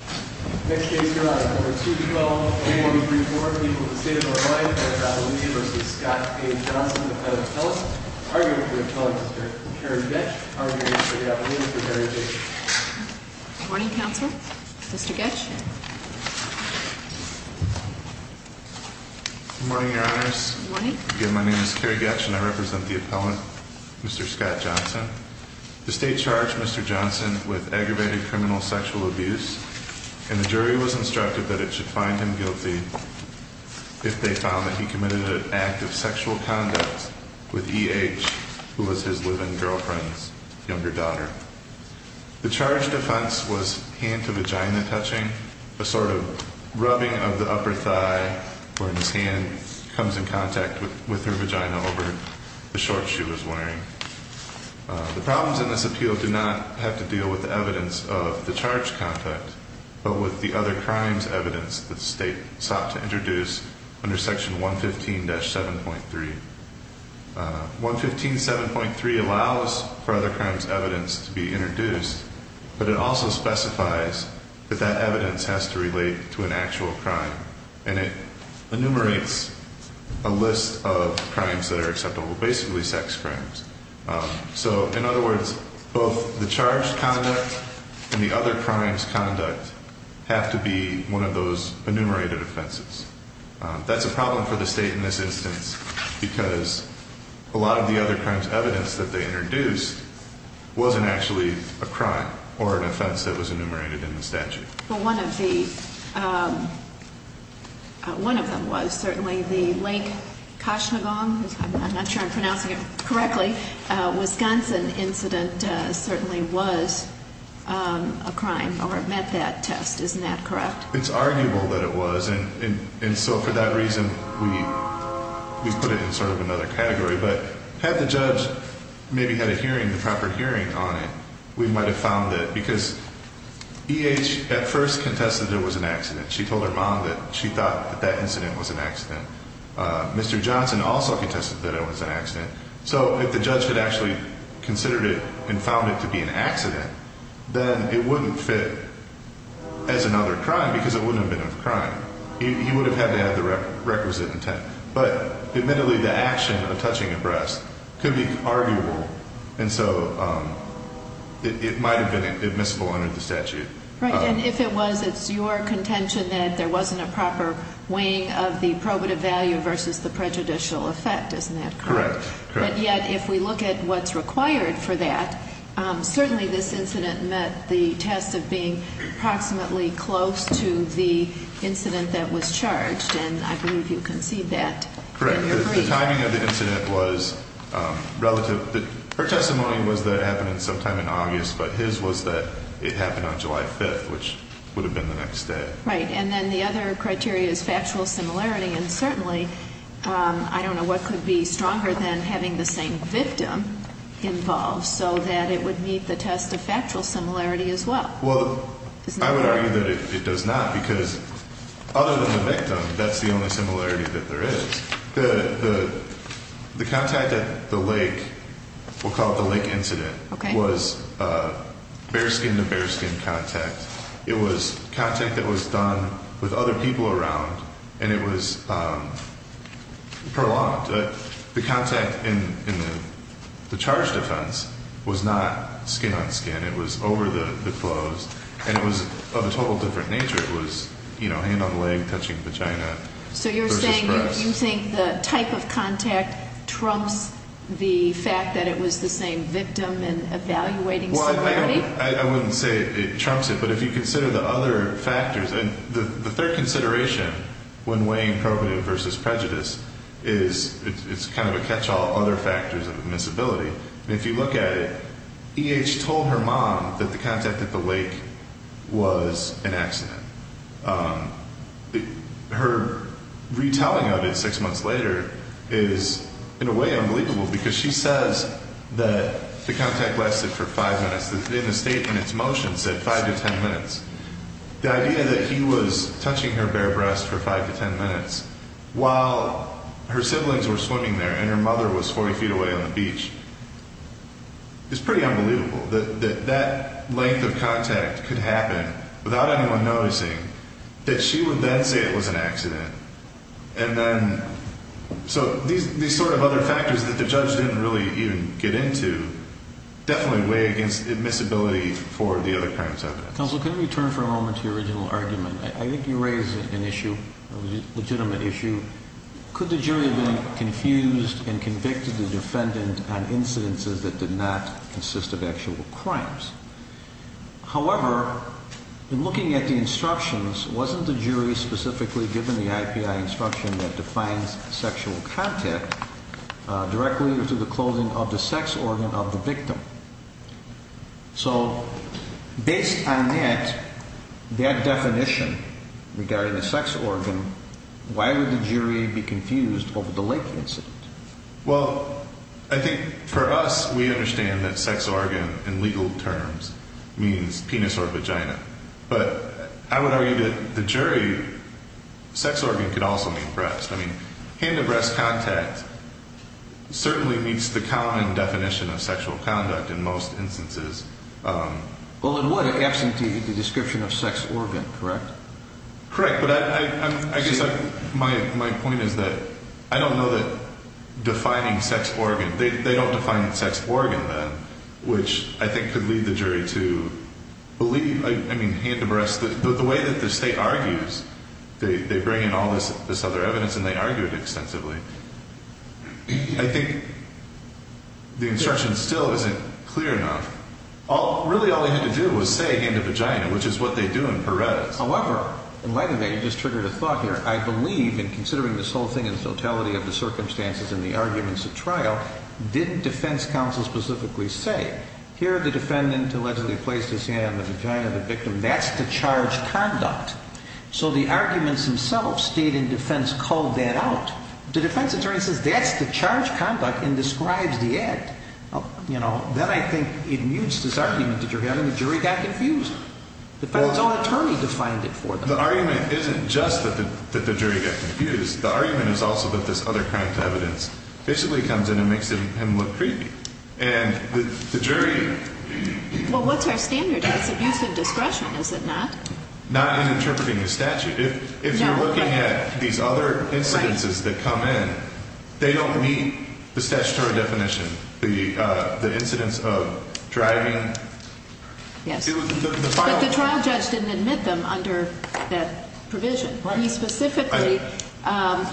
Next case here on number 212A134, people of the state of North Carolina, Appellant Abilene v. Scott A. Johnson, Appellant Appellant, arguing for the Appellant, Mr. Kerry Getsch, arguing for the Appellant, Mr. Kerry Getsch. Good morning, Counsel. Mr. Getsch? Good morning, Your Honors. Good morning. Again, my name is Kerry Getsch, and I represent the Appellant, Mr. Scott Johnson. The state charged Mr. Johnson with aggravated criminal sexual abuse, and the jury was instructed that it should find him guilty if they found that he committed an act of sexual conduct with E.H., who was his live-in girlfriend's younger daughter. The charged offense was hand-to-vagina touching, a sort of rubbing of the upper thigh where his hand comes in contact with her vagina over the shorts she was wearing. The problems in this appeal did not have to deal with the evidence of the charged contact, but with the other crimes evidence that the state sought to introduce under Section 115-7.3. 115-7.3 allows for other crimes evidence to be introduced, but it also specifies that that evidence has to relate to an actual crime. And it enumerates a list of crimes that are acceptable, basically sex crimes. So, in other words, both the charged conduct and the other crimes conduct have to be one of those enumerated offenses. That's a problem for the state in this instance, because a lot of the other crimes evidence that they introduced wasn't actually a crime or an offense that was enumerated in the statute. Well, one of the – one of them was certainly the Lake Koshnagon – I'm not sure I'm pronouncing it correctly – Wisconsin incident certainly was a crime, or it met that test. Isn't that correct? It's arguable that it was, and so for that reason we put it in sort of another category. But had the judge maybe had a hearing, a proper hearing on it, we might have found it. Because E.H. at first contested it was an accident. She told her mom that she thought that that incident was an accident. Mr. Johnson also contested that it was an accident. So if the judge had actually considered it and found it to be an accident, then it wouldn't fit as another crime because it wouldn't have been a crime. He would have had to have the requisite intent. But admittedly, the action of touching a breast could be arguable, and so it might have been admissible under the statute. Right. And if it was, it's your contention that there wasn't a proper weighing of the probative value versus the prejudicial effect. Isn't that correct? Correct. But yet if we look at what's required for that, certainly this incident met the test of being approximately close to the incident that was charged. And I believe you concede that. Correct. The timing of the incident was relative. Her testimony was that it happened sometime in August, but his was that it happened on July 5th, which would have been the next day. Right. And then the other criteria is factual similarity, and certainly I don't know what could be stronger than having the same victim involved so that it would meet the test of factual similarity as well. Well, I would argue that it does not because other than the victim, that's the only similarity that there is. The contact at the lake, we'll call it the lake incident, was bare skin to bare skin contact. It was contact that was done with other people around, and it was prolonged. The contact in the charge defense was not skin on skin. It was over the clothes, and it was of a total different nature. It was, you know, hand on leg, touching vagina versus breast. So you're saying you think the type of contact trumps the fact that it was the same victim and evaluating similarity? I wouldn't say it trumps it, but if you consider the other factors, and the third consideration when weighing probative versus prejudice is it's kind of a catch-all other factors of invincibility. And if you look at it, E.H. told her mom that the contact at the lake was an accident. Her retelling of it six months later is, in a way, unbelievable because she says that the contact lasted for five minutes. In the statement, its motion said five to ten minutes. The idea that he was touching her bare breast for five to ten minutes while her siblings were swimming there and her mother was 40 feet away on the beach is pretty unbelievable. That that length of contact could happen without anyone noticing, that she would then say it was an accident. And then so these sort of other factors that the judge didn't really even get into definitely weigh against admissibility for the other kinds of evidence. Counsel, can we turn for a moment to your original argument? I think you raised an issue, a legitimate issue. Could the jury have been confused and convicted the defendant on incidences that did not consist of actual crimes? However, in looking at the instructions, wasn't the jury specifically given the IPI instruction that defines sexual contact directly to the clothing of the sex organ of the victim? So based on that, that definition regarding the sex organ, why would the jury be confused over the Lake incident? Well, I think for us, we understand that sex organ in legal terms means penis or vagina. But I would argue that the jury, sex organ could also mean breast. I mean, hand-to-breast contact certainly meets the common definition of sexual conduct in most instances. Well, in what, absent the description of sex organ, correct? Correct. But I guess my point is that I don't know that defining sex organ, they don't define sex organ then, which I think could lead the jury to believe, I mean, hand-to-breast. But the way that the state argues, they bring in all this other evidence and they argue it extensively. I think the instruction still isn't clear enough. Really, all they had to do was say hand-to-vagina, which is what they do in Perez. However, in light of that, you just triggered a thought here. I believe in considering this whole thing in totality of the circumstances and the arguments at trial, didn't defense counsel specifically say, here the defendant allegedly placed his hand on the vagina of the victim, that's the charged conduct. So the arguments themselves, state and defense called that out. The defense attorney says that's the charged conduct and describes the act. Then I think it mutes this argument that you're having, the jury got confused. The defense attorney defined it for them. The argument isn't just that the jury got confused. The argument is also that this other kind of evidence basically comes in and makes him look creepy. And the jury... Well, what's our standard? That's abuse of discretion, is it not? Not in interpreting the statute. If you're looking at these other incidences that come in, they don't meet the statutory definition. The incidence of driving... But the trial judge didn't admit them under that provision. He specifically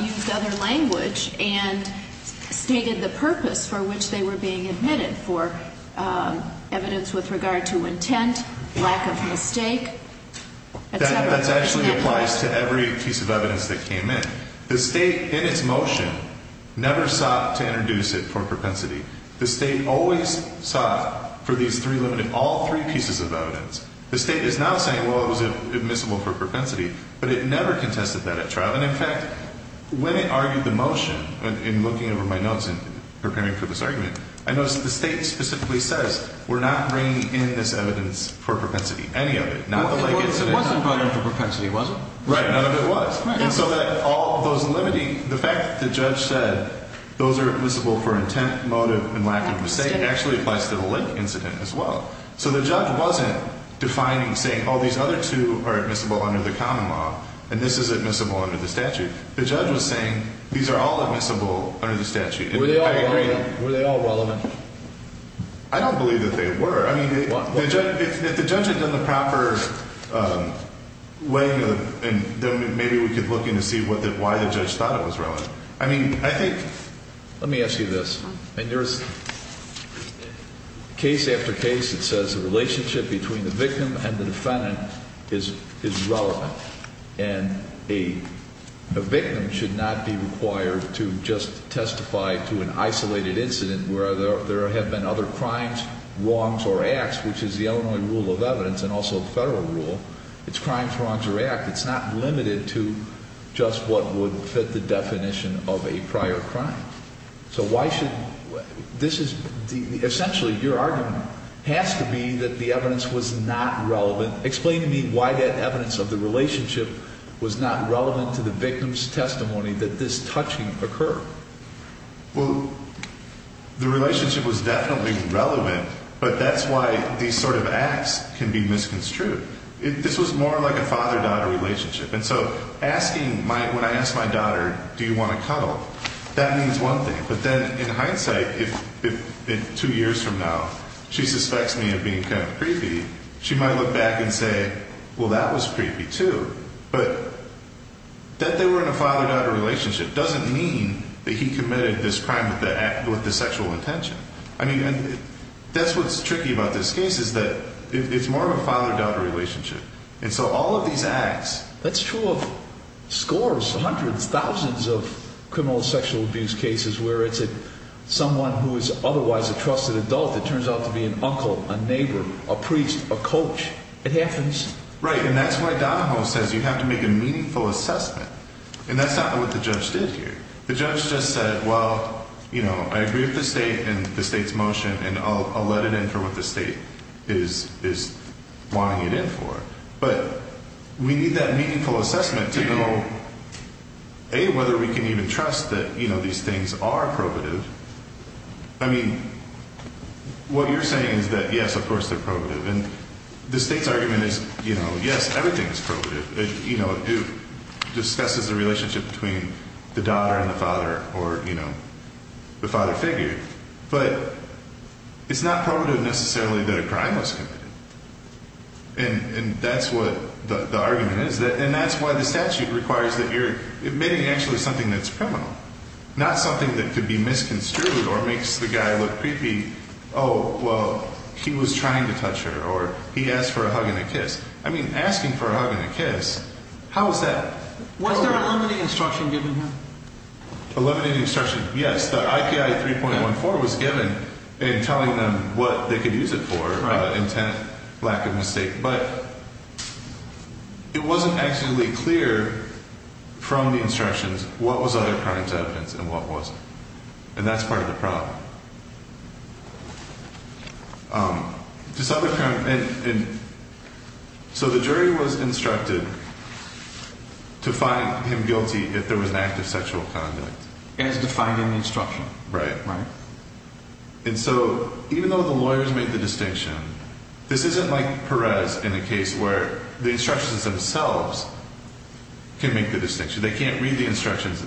used other language and stated the purpose for which they were being admitted, for evidence with regard to intent, lack of mistake, et cetera. That actually applies to every piece of evidence that came in. The state, in its motion, never sought to introduce it for propensity. The state always sought for these three limited, all three pieces of evidence. The state is now saying, well, it was admissible for propensity. But it never contested that at trial. And, in fact, when it argued the motion, in looking over my notes and preparing for this argument, I noticed the state specifically says, we're not bringing in this evidence for propensity, any of it. It wasn't brought in for propensity, was it? Right, none of it was. And so that all of those limiting, the fact that the judge said those are admissible for intent, motive, and lack of mistake actually applies to the link incident as well. So the judge wasn't defining, saying, oh, these other two are admissible under the common law, and this is admissible under the statute. The judge was saying, these are all admissible under the statute. Were they all relevant? I agree. Were they all relevant? I don't believe that they were. I mean, if the judge had done the proper weighing of them, then maybe we could look into see why the judge thought it was relevant. I mean, I think- Let me ask you this. And there's case after case that says the relationship between the victim and the defendant is relevant. And a victim should not be required to just testify to an isolated incident where there have been other crimes, wrongs, or acts, which is the Illinois rule of evidence and also the federal rule. It's crimes, wrongs, or acts. It's not limited to just what would fit the definition of a prior crime. So why should- This is- Essentially, your argument has to be that the evidence was not relevant. Explain to me why that evidence of the relationship was not relevant to the victim's testimony that this touching occurred. Well, the relationship was definitely relevant, but that's why these sort of acts can be misconstrued. This was more like a father-daughter relationship. And so asking my-when I ask my daughter, do you want to cuddle, that means one thing. But then in hindsight, if two years from now she suspects me of being kind of creepy, she might look back and say, well, that was creepy, too. But that they were in a father-daughter relationship doesn't mean that he committed this crime with the sexual intention. I mean, that's what's tricky about this case is that it's more of a father-daughter relationship. And so all of these acts- That's true of scores, hundreds, thousands of criminal sexual abuse cases where it's someone who is otherwise a trusted adult that turns out to be an uncle, a neighbor, a priest, a coach. It happens. Right, and that's why Donahoe says you have to make a meaningful assessment. And that's not what the judge did here. The judge just said, well, you know, I agree with the state and the state's motion, and I'll let it enter what the state is wanting it in for. But we need that meaningful assessment to know, A, whether we can even trust that, you know, these things are probative. I mean, what you're saying is that, yes, of course they're probative. And the state's argument is, you know, yes, everything is probative. It discusses the relationship between the daughter and the father or, you know, the father figure. But it's not probative necessarily that a crime was committed. And that's what the argument is. And that's why the statute requires that you're admitting actually something that's criminal, not something that could be misconstrued or makes the guy look creepy. Oh, well, he was trying to touch her, or he asked for a hug and a kiss. I mean, asking for a hug and a kiss, how is that? Was there a limiting instruction given here? A limiting instruction? Yes, the IPI 3.14 was given in telling them what they could use it for, intent, lack of mistake. But it wasn't actually clear from the instructions what was other crimes evidence and what wasn't. And that's part of the problem. This other crime, and so the jury was instructed to find him guilty if there was an act of sexual conduct. As defined in the instruction. Right. Right. And so even though the lawyers made the distinction, this isn't like Perez in a case where the instructions themselves can make the distinction. They can't read the instructions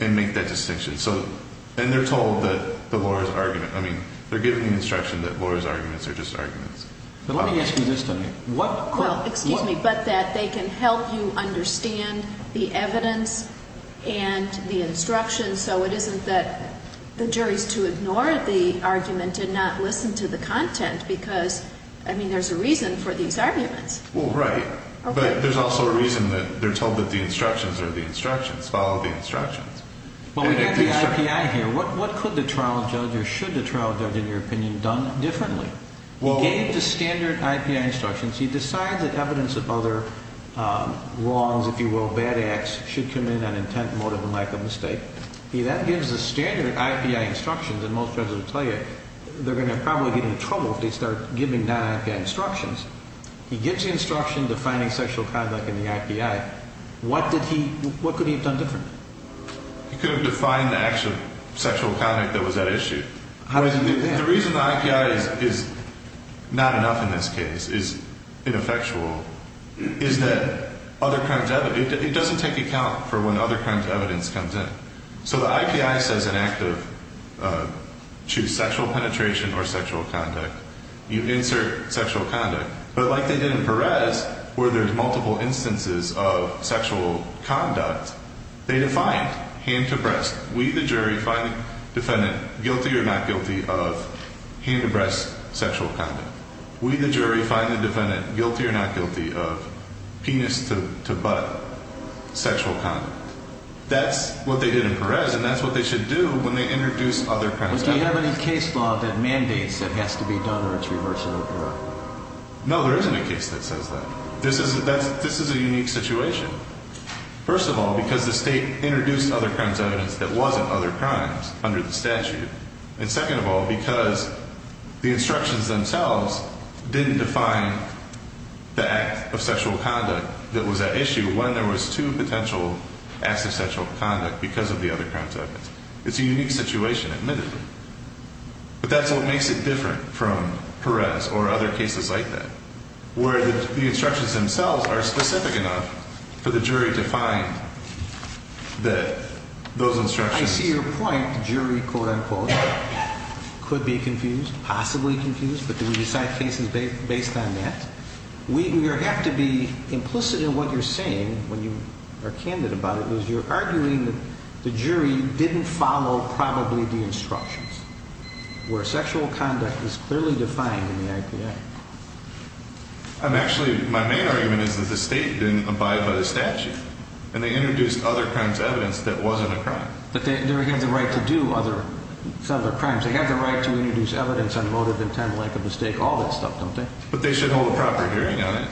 and make that distinction. And they're told that the lawyer's argument, I mean, they're given the instruction that lawyers' arguments are just arguments. But let me ask you this, Tony. Well, excuse me, but that they can help you understand the evidence and the instructions, so it isn't that the jury's to ignore the argument and not listen to the content because, I mean, there's a reason for these arguments. Well, right. Okay. But there's also a reason that they're told that the instructions are the instructions, follow the instructions. Well, we have the I.P.I. here. What could the trial judge or should the trial judge, in your opinion, done differently? He gave the standard I.P.I. instructions. He decides that evidence of other wrongs, if you will, bad acts, should come in on intent, motive, and lack of mistake. That gives the standard I.P.I. instructions. And most judges will tell you they're going to probably get into trouble if they start giving non-I.P.I. instructions. He gives the instruction defining sexual conduct in the I.P.I. What could he have done differently? He could have defined the actual sexual conduct that was at issue. How does he do that? The reason the I.P.I. is not enough in this case, is ineffectual, is that other kinds of evidence, it doesn't take account for when other kinds of evidence comes in. So the I.P.I. says inactive, choose sexual penetration or sexual conduct. You insert sexual conduct. But like they did in Perez, where there's multiple instances of sexual conduct, they defined hand-to-breast. We, the jury, find the defendant guilty or not guilty of hand-to-breast sexual conduct. We, the jury, find the defendant guilty or not guilty of penis-to-butt sexual conduct. That's what they did in Perez, and that's what they should do when they introduce other kinds of evidence. Do you have any case law that mandates it has to be done or it's reversible? No, there isn't a case that says that. This is a unique situation. First of all, because the state introduced other kinds of evidence that wasn't other crimes under the statute. And second of all, because the instructions themselves didn't define the act of sexual conduct that was at issue when there was two potential acts of sexual conduct because of the other kinds of evidence. It's a unique situation, admittedly. But that's what makes it different from Perez or other cases like that, where the instructions themselves are specific enough for the jury to find that those instructions... I see your point, jury, quote-unquote, could be confused, possibly confused, but do we decide cases based on that? We have to be implicit in what you're saying when you are candid about it, because you're arguing that the jury didn't follow probably the instructions, where sexual conduct is clearly defined in the IPA. Actually, my main argument is that the state didn't abide by the statute, and they introduced other kinds of evidence that wasn't a crime. But they have the right to do other crimes. They have the right to introduce evidence on motive, intent, length of mistake, all that stuff, don't they? But they should hold a proper hearing on it.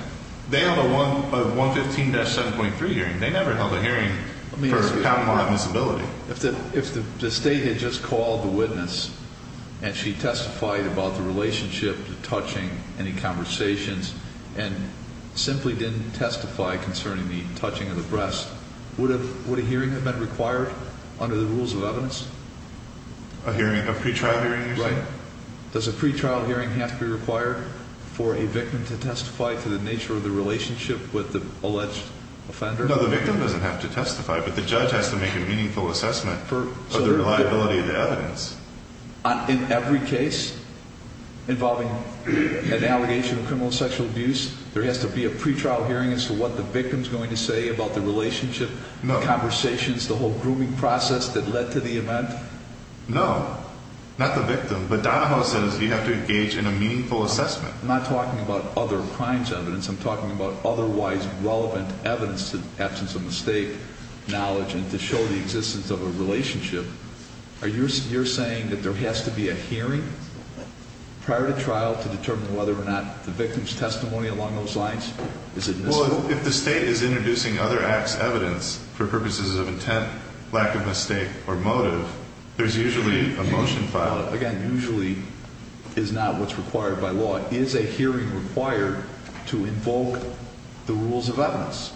They held a 115-7.3 hearing. They never held a hearing for common law admissibility. If the state had just called the witness and she testified about the relationship to touching, any conversations, and simply didn't testify concerning the touching of the breast, would a hearing have been required under the rules of evidence? A pre-trial hearing, you're saying? Does a pre-trial hearing have to be required for a victim to testify to the nature of the relationship with the alleged offender? No, the victim doesn't have to testify, but the judge has to make a meaningful assessment of the reliability of the evidence. In every case involving an allegation of criminal sexual abuse, there has to be a pre-trial hearing as to what the victim is going to say about the relationship, the conversations, the whole grooming process that led to the event? No, not the victim. But Donahoe says you have to engage in a meaningful assessment. I'm not talking about other crimes evidence. I'm talking about otherwise relevant evidence in the absence of mistake knowledge and to show the existence of a relationship. You're saying that there has to be a hearing prior to trial to determine whether or not the victim's testimony along those lines is admissible? Well, if the state is introducing other acts evidence for purposes of intent, lack of mistake, or motive, there's usually a motion filed. Again, usually is not what's required by law. Is a hearing required to invoke the rules of evidence?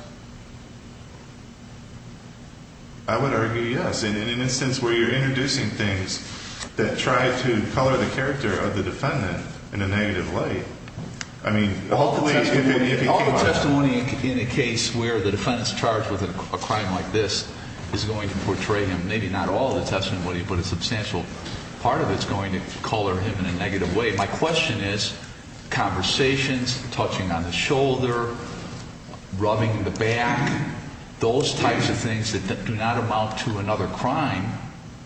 I would argue yes. In an instance where you're introducing things that try to color the character of the defendant in a negative way, I mean, hopefully if he came out. All the testimony in a case where the defendant's charged with a crime like this is going to portray him, maybe not all the testimony, but a substantial part of it is going to color him in a negative way. My question is conversations, touching on the shoulder, rubbing the back, those types of things that do not amount to another crime,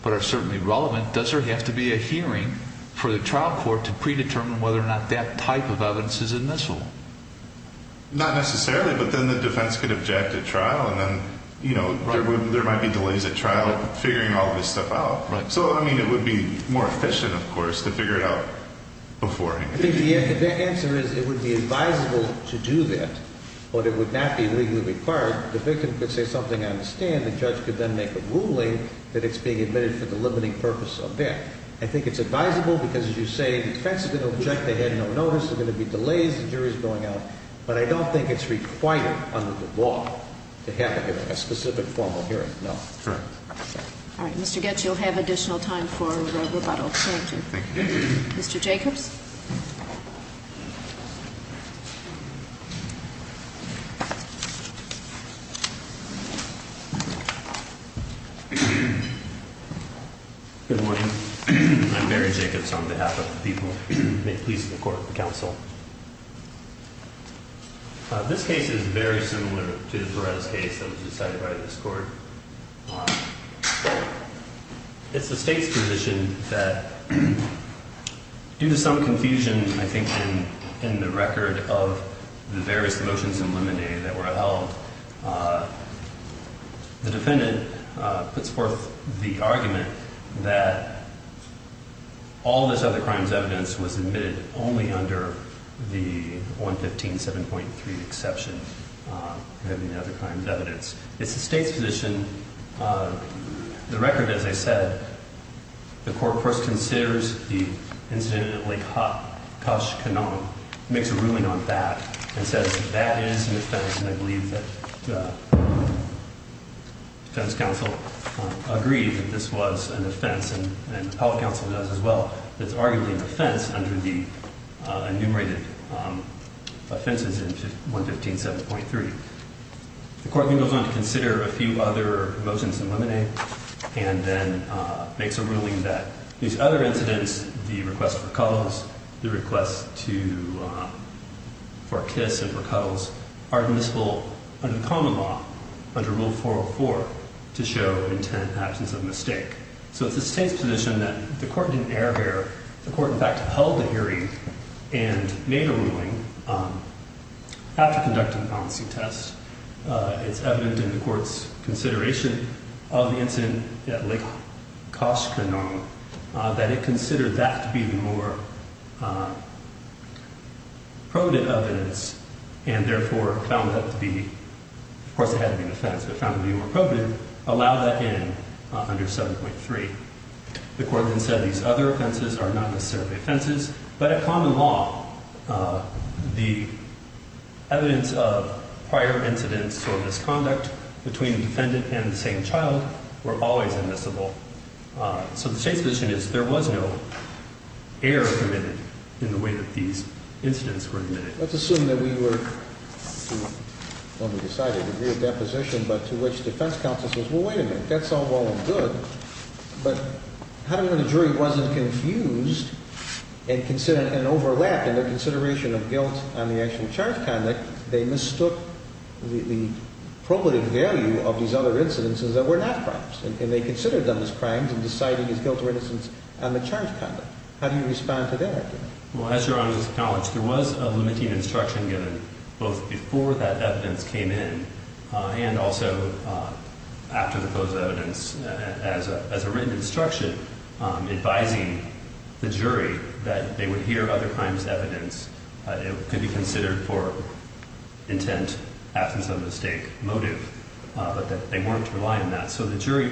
but are certainly relevant. Does there have to be a hearing for the trial court to predetermine whether or not that type of evidence is admissible? Not necessarily, but then the defense could object at trial and then, you know, there might be delays at trial figuring all this stuff out. So, I mean, it would be more efficient, of course, to figure it out beforehand. I think the answer is it would be advisable to do that, but it would not be legally required. The victim could say something I understand. The judge could then make a ruling that it's being admitted for the limiting purpose of that. I think it's advisable because, as you say, the defense is going to object. They had no notice. There are going to be delays. The jury is going out. But I don't think it's required under the law to have a specific formal hearing, no. Correct. All right. Mr. Goetz, you'll have additional time for rebuttal. Thank you. Thank you. Mr. Jacobs? Good morning. I'm Barry Jacobs on behalf of the people of the Police and the Court of Counsel. This case is very similar to the Perez case that was decided by this Court. It's the state's position that due to some confusion, I think, in the record of the various motions in Limine that were held, the defendant puts forth the argument that all of this other crime's evidence was admitted only under the 115.7.3 exception, having the other crime's evidence. It's the state's position. The record, as I said, the court first considers the incidentally cussed canon, makes a ruling on that, and says that is an offense, and I believe that the defense counsel agreed that this was an offense, and the public counsel does as well, that it's arguably an offense under the enumerated offenses in 115.7.3. The court then goes on to consider a few other motions in Limine, and then makes a ruling that these other incidents, the request for cuddles, the request for a kiss and for cuddles, are admissible under common law, under Rule 404, to show intent and absence of mistake. So it's the state's position that the court didn't err here. The court, in fact, held a hearing and made a ruling after conducting a policy test. It's evident in the court's consideration of the incident at Lake Koshkannon that it considered that to be the more probative evidence, and therefore found that to be, of course it had to be an offense, but found it to be more probative, allowed that in under 7.3. The court then said these other offenses are not necessarily offenses, but at common law, the evidence of prior incidents or misconduct between defendant and the same child were always admissible. So the state's position is there was no error committed in the way that these incidents were admitted. Let's assume that we were, well, we decided to agree with that position, but to which defense counsel says, well, wait a minute, that's all well and good, but how do we know the jury wasn't confused and overlapped in their consideration of guilt on the actual charge conduct? They mistook the probative value of these other incidences that were not crimes, and they considered them as crimes in deciding his guilt or innocence on the charge conduct. How do you respond to that? Well, as Your Honor has acknowledged, there was a limiting instruction given both before that evidence came in and also after the closed evidence as a written instruction advising the jury that they would hear other crimes' evidence. It could be considered for intent, absence of mistake, motive, but that they weren't relying on that. So the jury,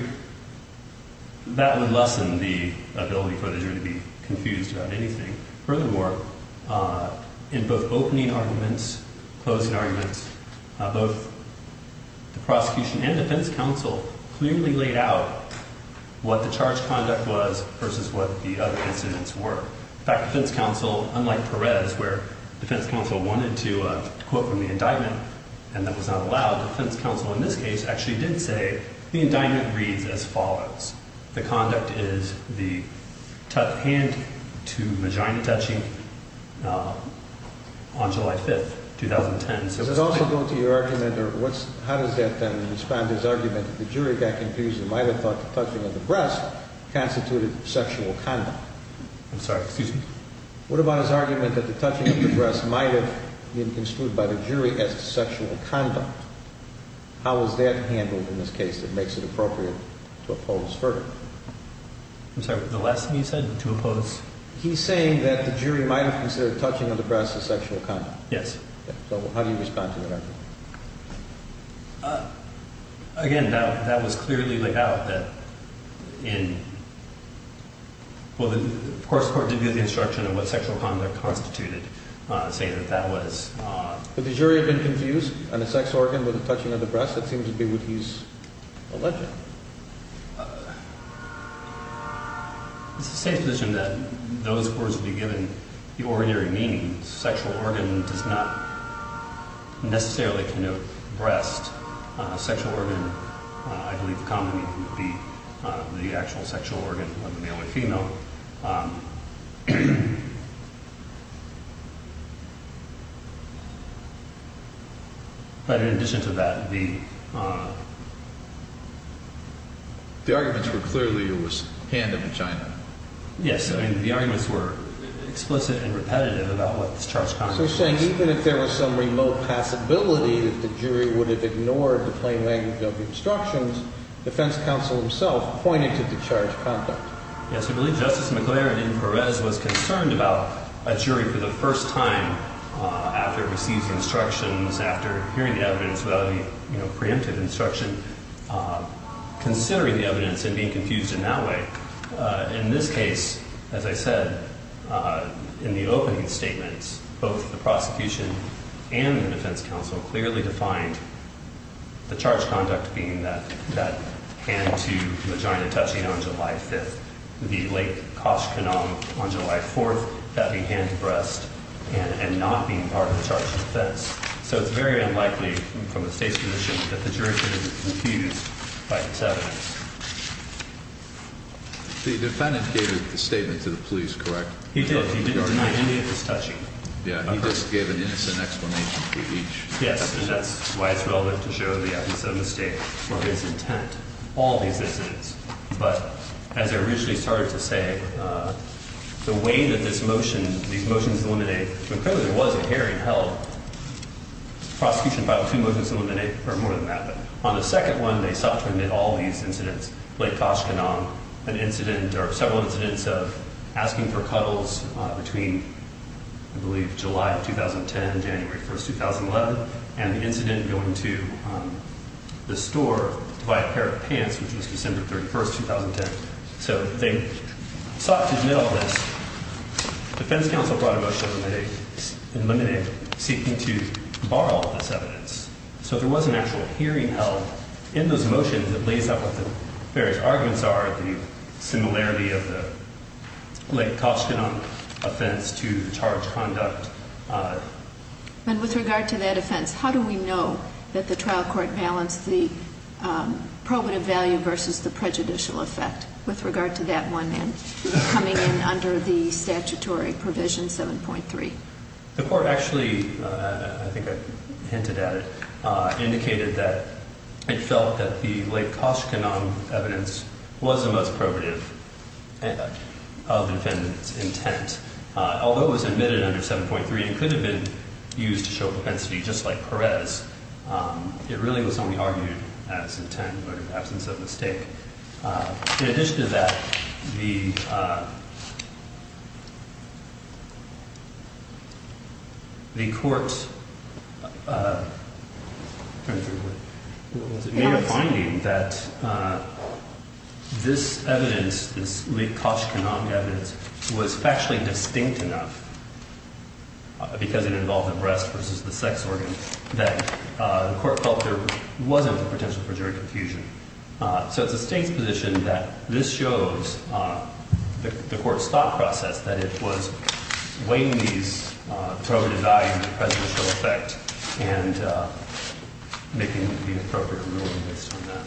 that would lessen the ability for the jury to be confused about anything. Furthermore, in both opening arguments, closing arguments, both the prosecution and defense counsel clearly laid out what the charge conduct was versus what the other incidents were. In fact, defense counsel, unlike Perez, where defense counsel wanted to quote from the indictment and that was not allowed, defense counsel in this case actually did say the indictment reads as follows. The conduct is the hand to vagina touching on July 5th, 2010. Does it also go to your argument or how does that then respond to his argument that the jury got confused and might have thought the touching of the breast constituted sexual conduct? I'm sorry, excuse me? What about his argument that the touching of the breast might have been construed by the jury as sexual conduct? How is that handled in this case that makes it appropriate to oppose further? I'm sorry, the last thing you said, to oppose? He's saying that the jury might have considered touching of the breast as sexual conduct. Yes. So how do you respond to that argument? Again, that was clearly laid out that in, well, of course the court did give the instruction of what sexual conduct constituted, saying that that was. Would the jury have been confused on the sex organ with the touching of the breast? That seems to be what he's alleging. It's a safe position that those words would be given the ordinary meaning. Sexual organ does not necessarily connote breast. Sexual organ, I believe the common meaning would be the actual sexual organ of the male or female. But in addition to that, the arguments were clearly it was hand and vagina. Yes. I mean, the arguments were explicit and repetitive about what is charged conduct. So he's saying even if there was some remote possibility that the jury would have ignored the plain language of the instructions, defense counsel himself pointed to the charged conduct. Yes, I believe Justice McClaren in Perez was concerned about a jury for the first time after receiving instructions, after hearing the evidence without a preemptive instruction, considering the evidence and being confused in that way. In this case, as I said, in the opening statements, both the prosecution and the defense counsel clearly defined the charge conduct being that hand to vagina touching on July 5th. The late Koshkin on July 4th, that the hand to breast and not being part of the charge defense. So it's very unlikely from the state's position that the jury could have been confused by this evidence. The defendant gave the statement to the police, correct? He did. He didn't deny any of his touching. Yeah, he just gave an innocent explanation to each. Yes, and that's why it's relevant to show the evidence of mistake for his intent. All these incidents. But as I originally started to say, the way that this motion, these motions eliminate, McClaren there was a hearing held, prosecution filed two motions to eliminate, or more than that. But on the second one, they sought to admit all these incidents. Late Koshkin on an incident or several incidents of asking for cuddles between, I believe, July of 2010, January 1st, 2011, and the incident going to the store to buy a pair of pants, which was December 31st, 2010. So they sought to deny all this. Defense counsel brought a motion to eliminate, seeking to borrow this evidence. So there was an actual hearing held in those motions that lays out what the various arguments are, the similarity of the late Koshkin offense to charge conduct. And with regard to that offense, how do we know that the trial court balanced the probative value versus the prejudicial effect, with regard to that one man coming in under the statutory provision 7.3? The court actually, I think I hinted at it, indicated that it felt that the late Koshkin on evidence was the most probative of the defendant's intent. Although it was admitted under 7.3, it could have been used to show propensity, just like Perez. It really was only argued as intent, but in absence of mistake. In addition to that, the court made a finding that this evidence, this late Koshkin on evidence, was factually distinct enough, because it involved the breast versus the sex organ, that the court felt there wasn't the potential for jury confusion. So it's a state's position that this shows the court's thought process, that it was weighing these probative values and prejudicial effect, and making the appropriate ruling based on that.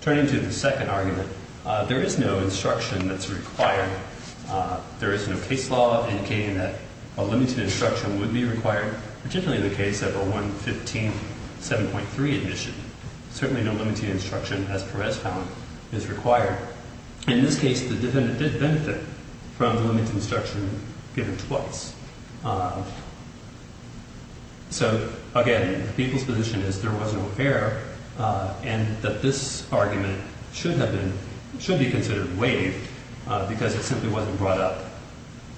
Turning to the second argument, there is no instruction that's required. There is no case law indicating that a limited instruction would be required, particularly in the case of a 115-7.3 admission. Certainly no limited instruction, as Perez found, is required. In this case, the defendant did benefit from the limited instruction given twice. So again, the people's position is there was no error, and that this argument should be considered waived, because it simply wasn't brought up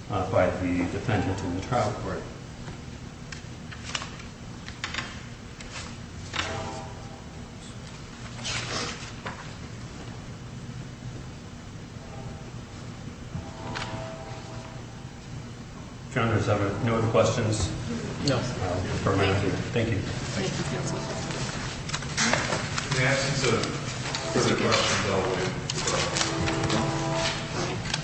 by the defendant in the trial court. Thank you. Founders, are there no other questions? No. Thank you.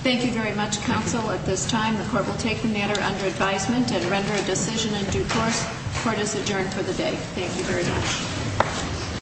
Thank you very much, counsel. At this time, the court will take the matter under advisement and render a decision in due course. Court is adjourned for the day. Thank you very much.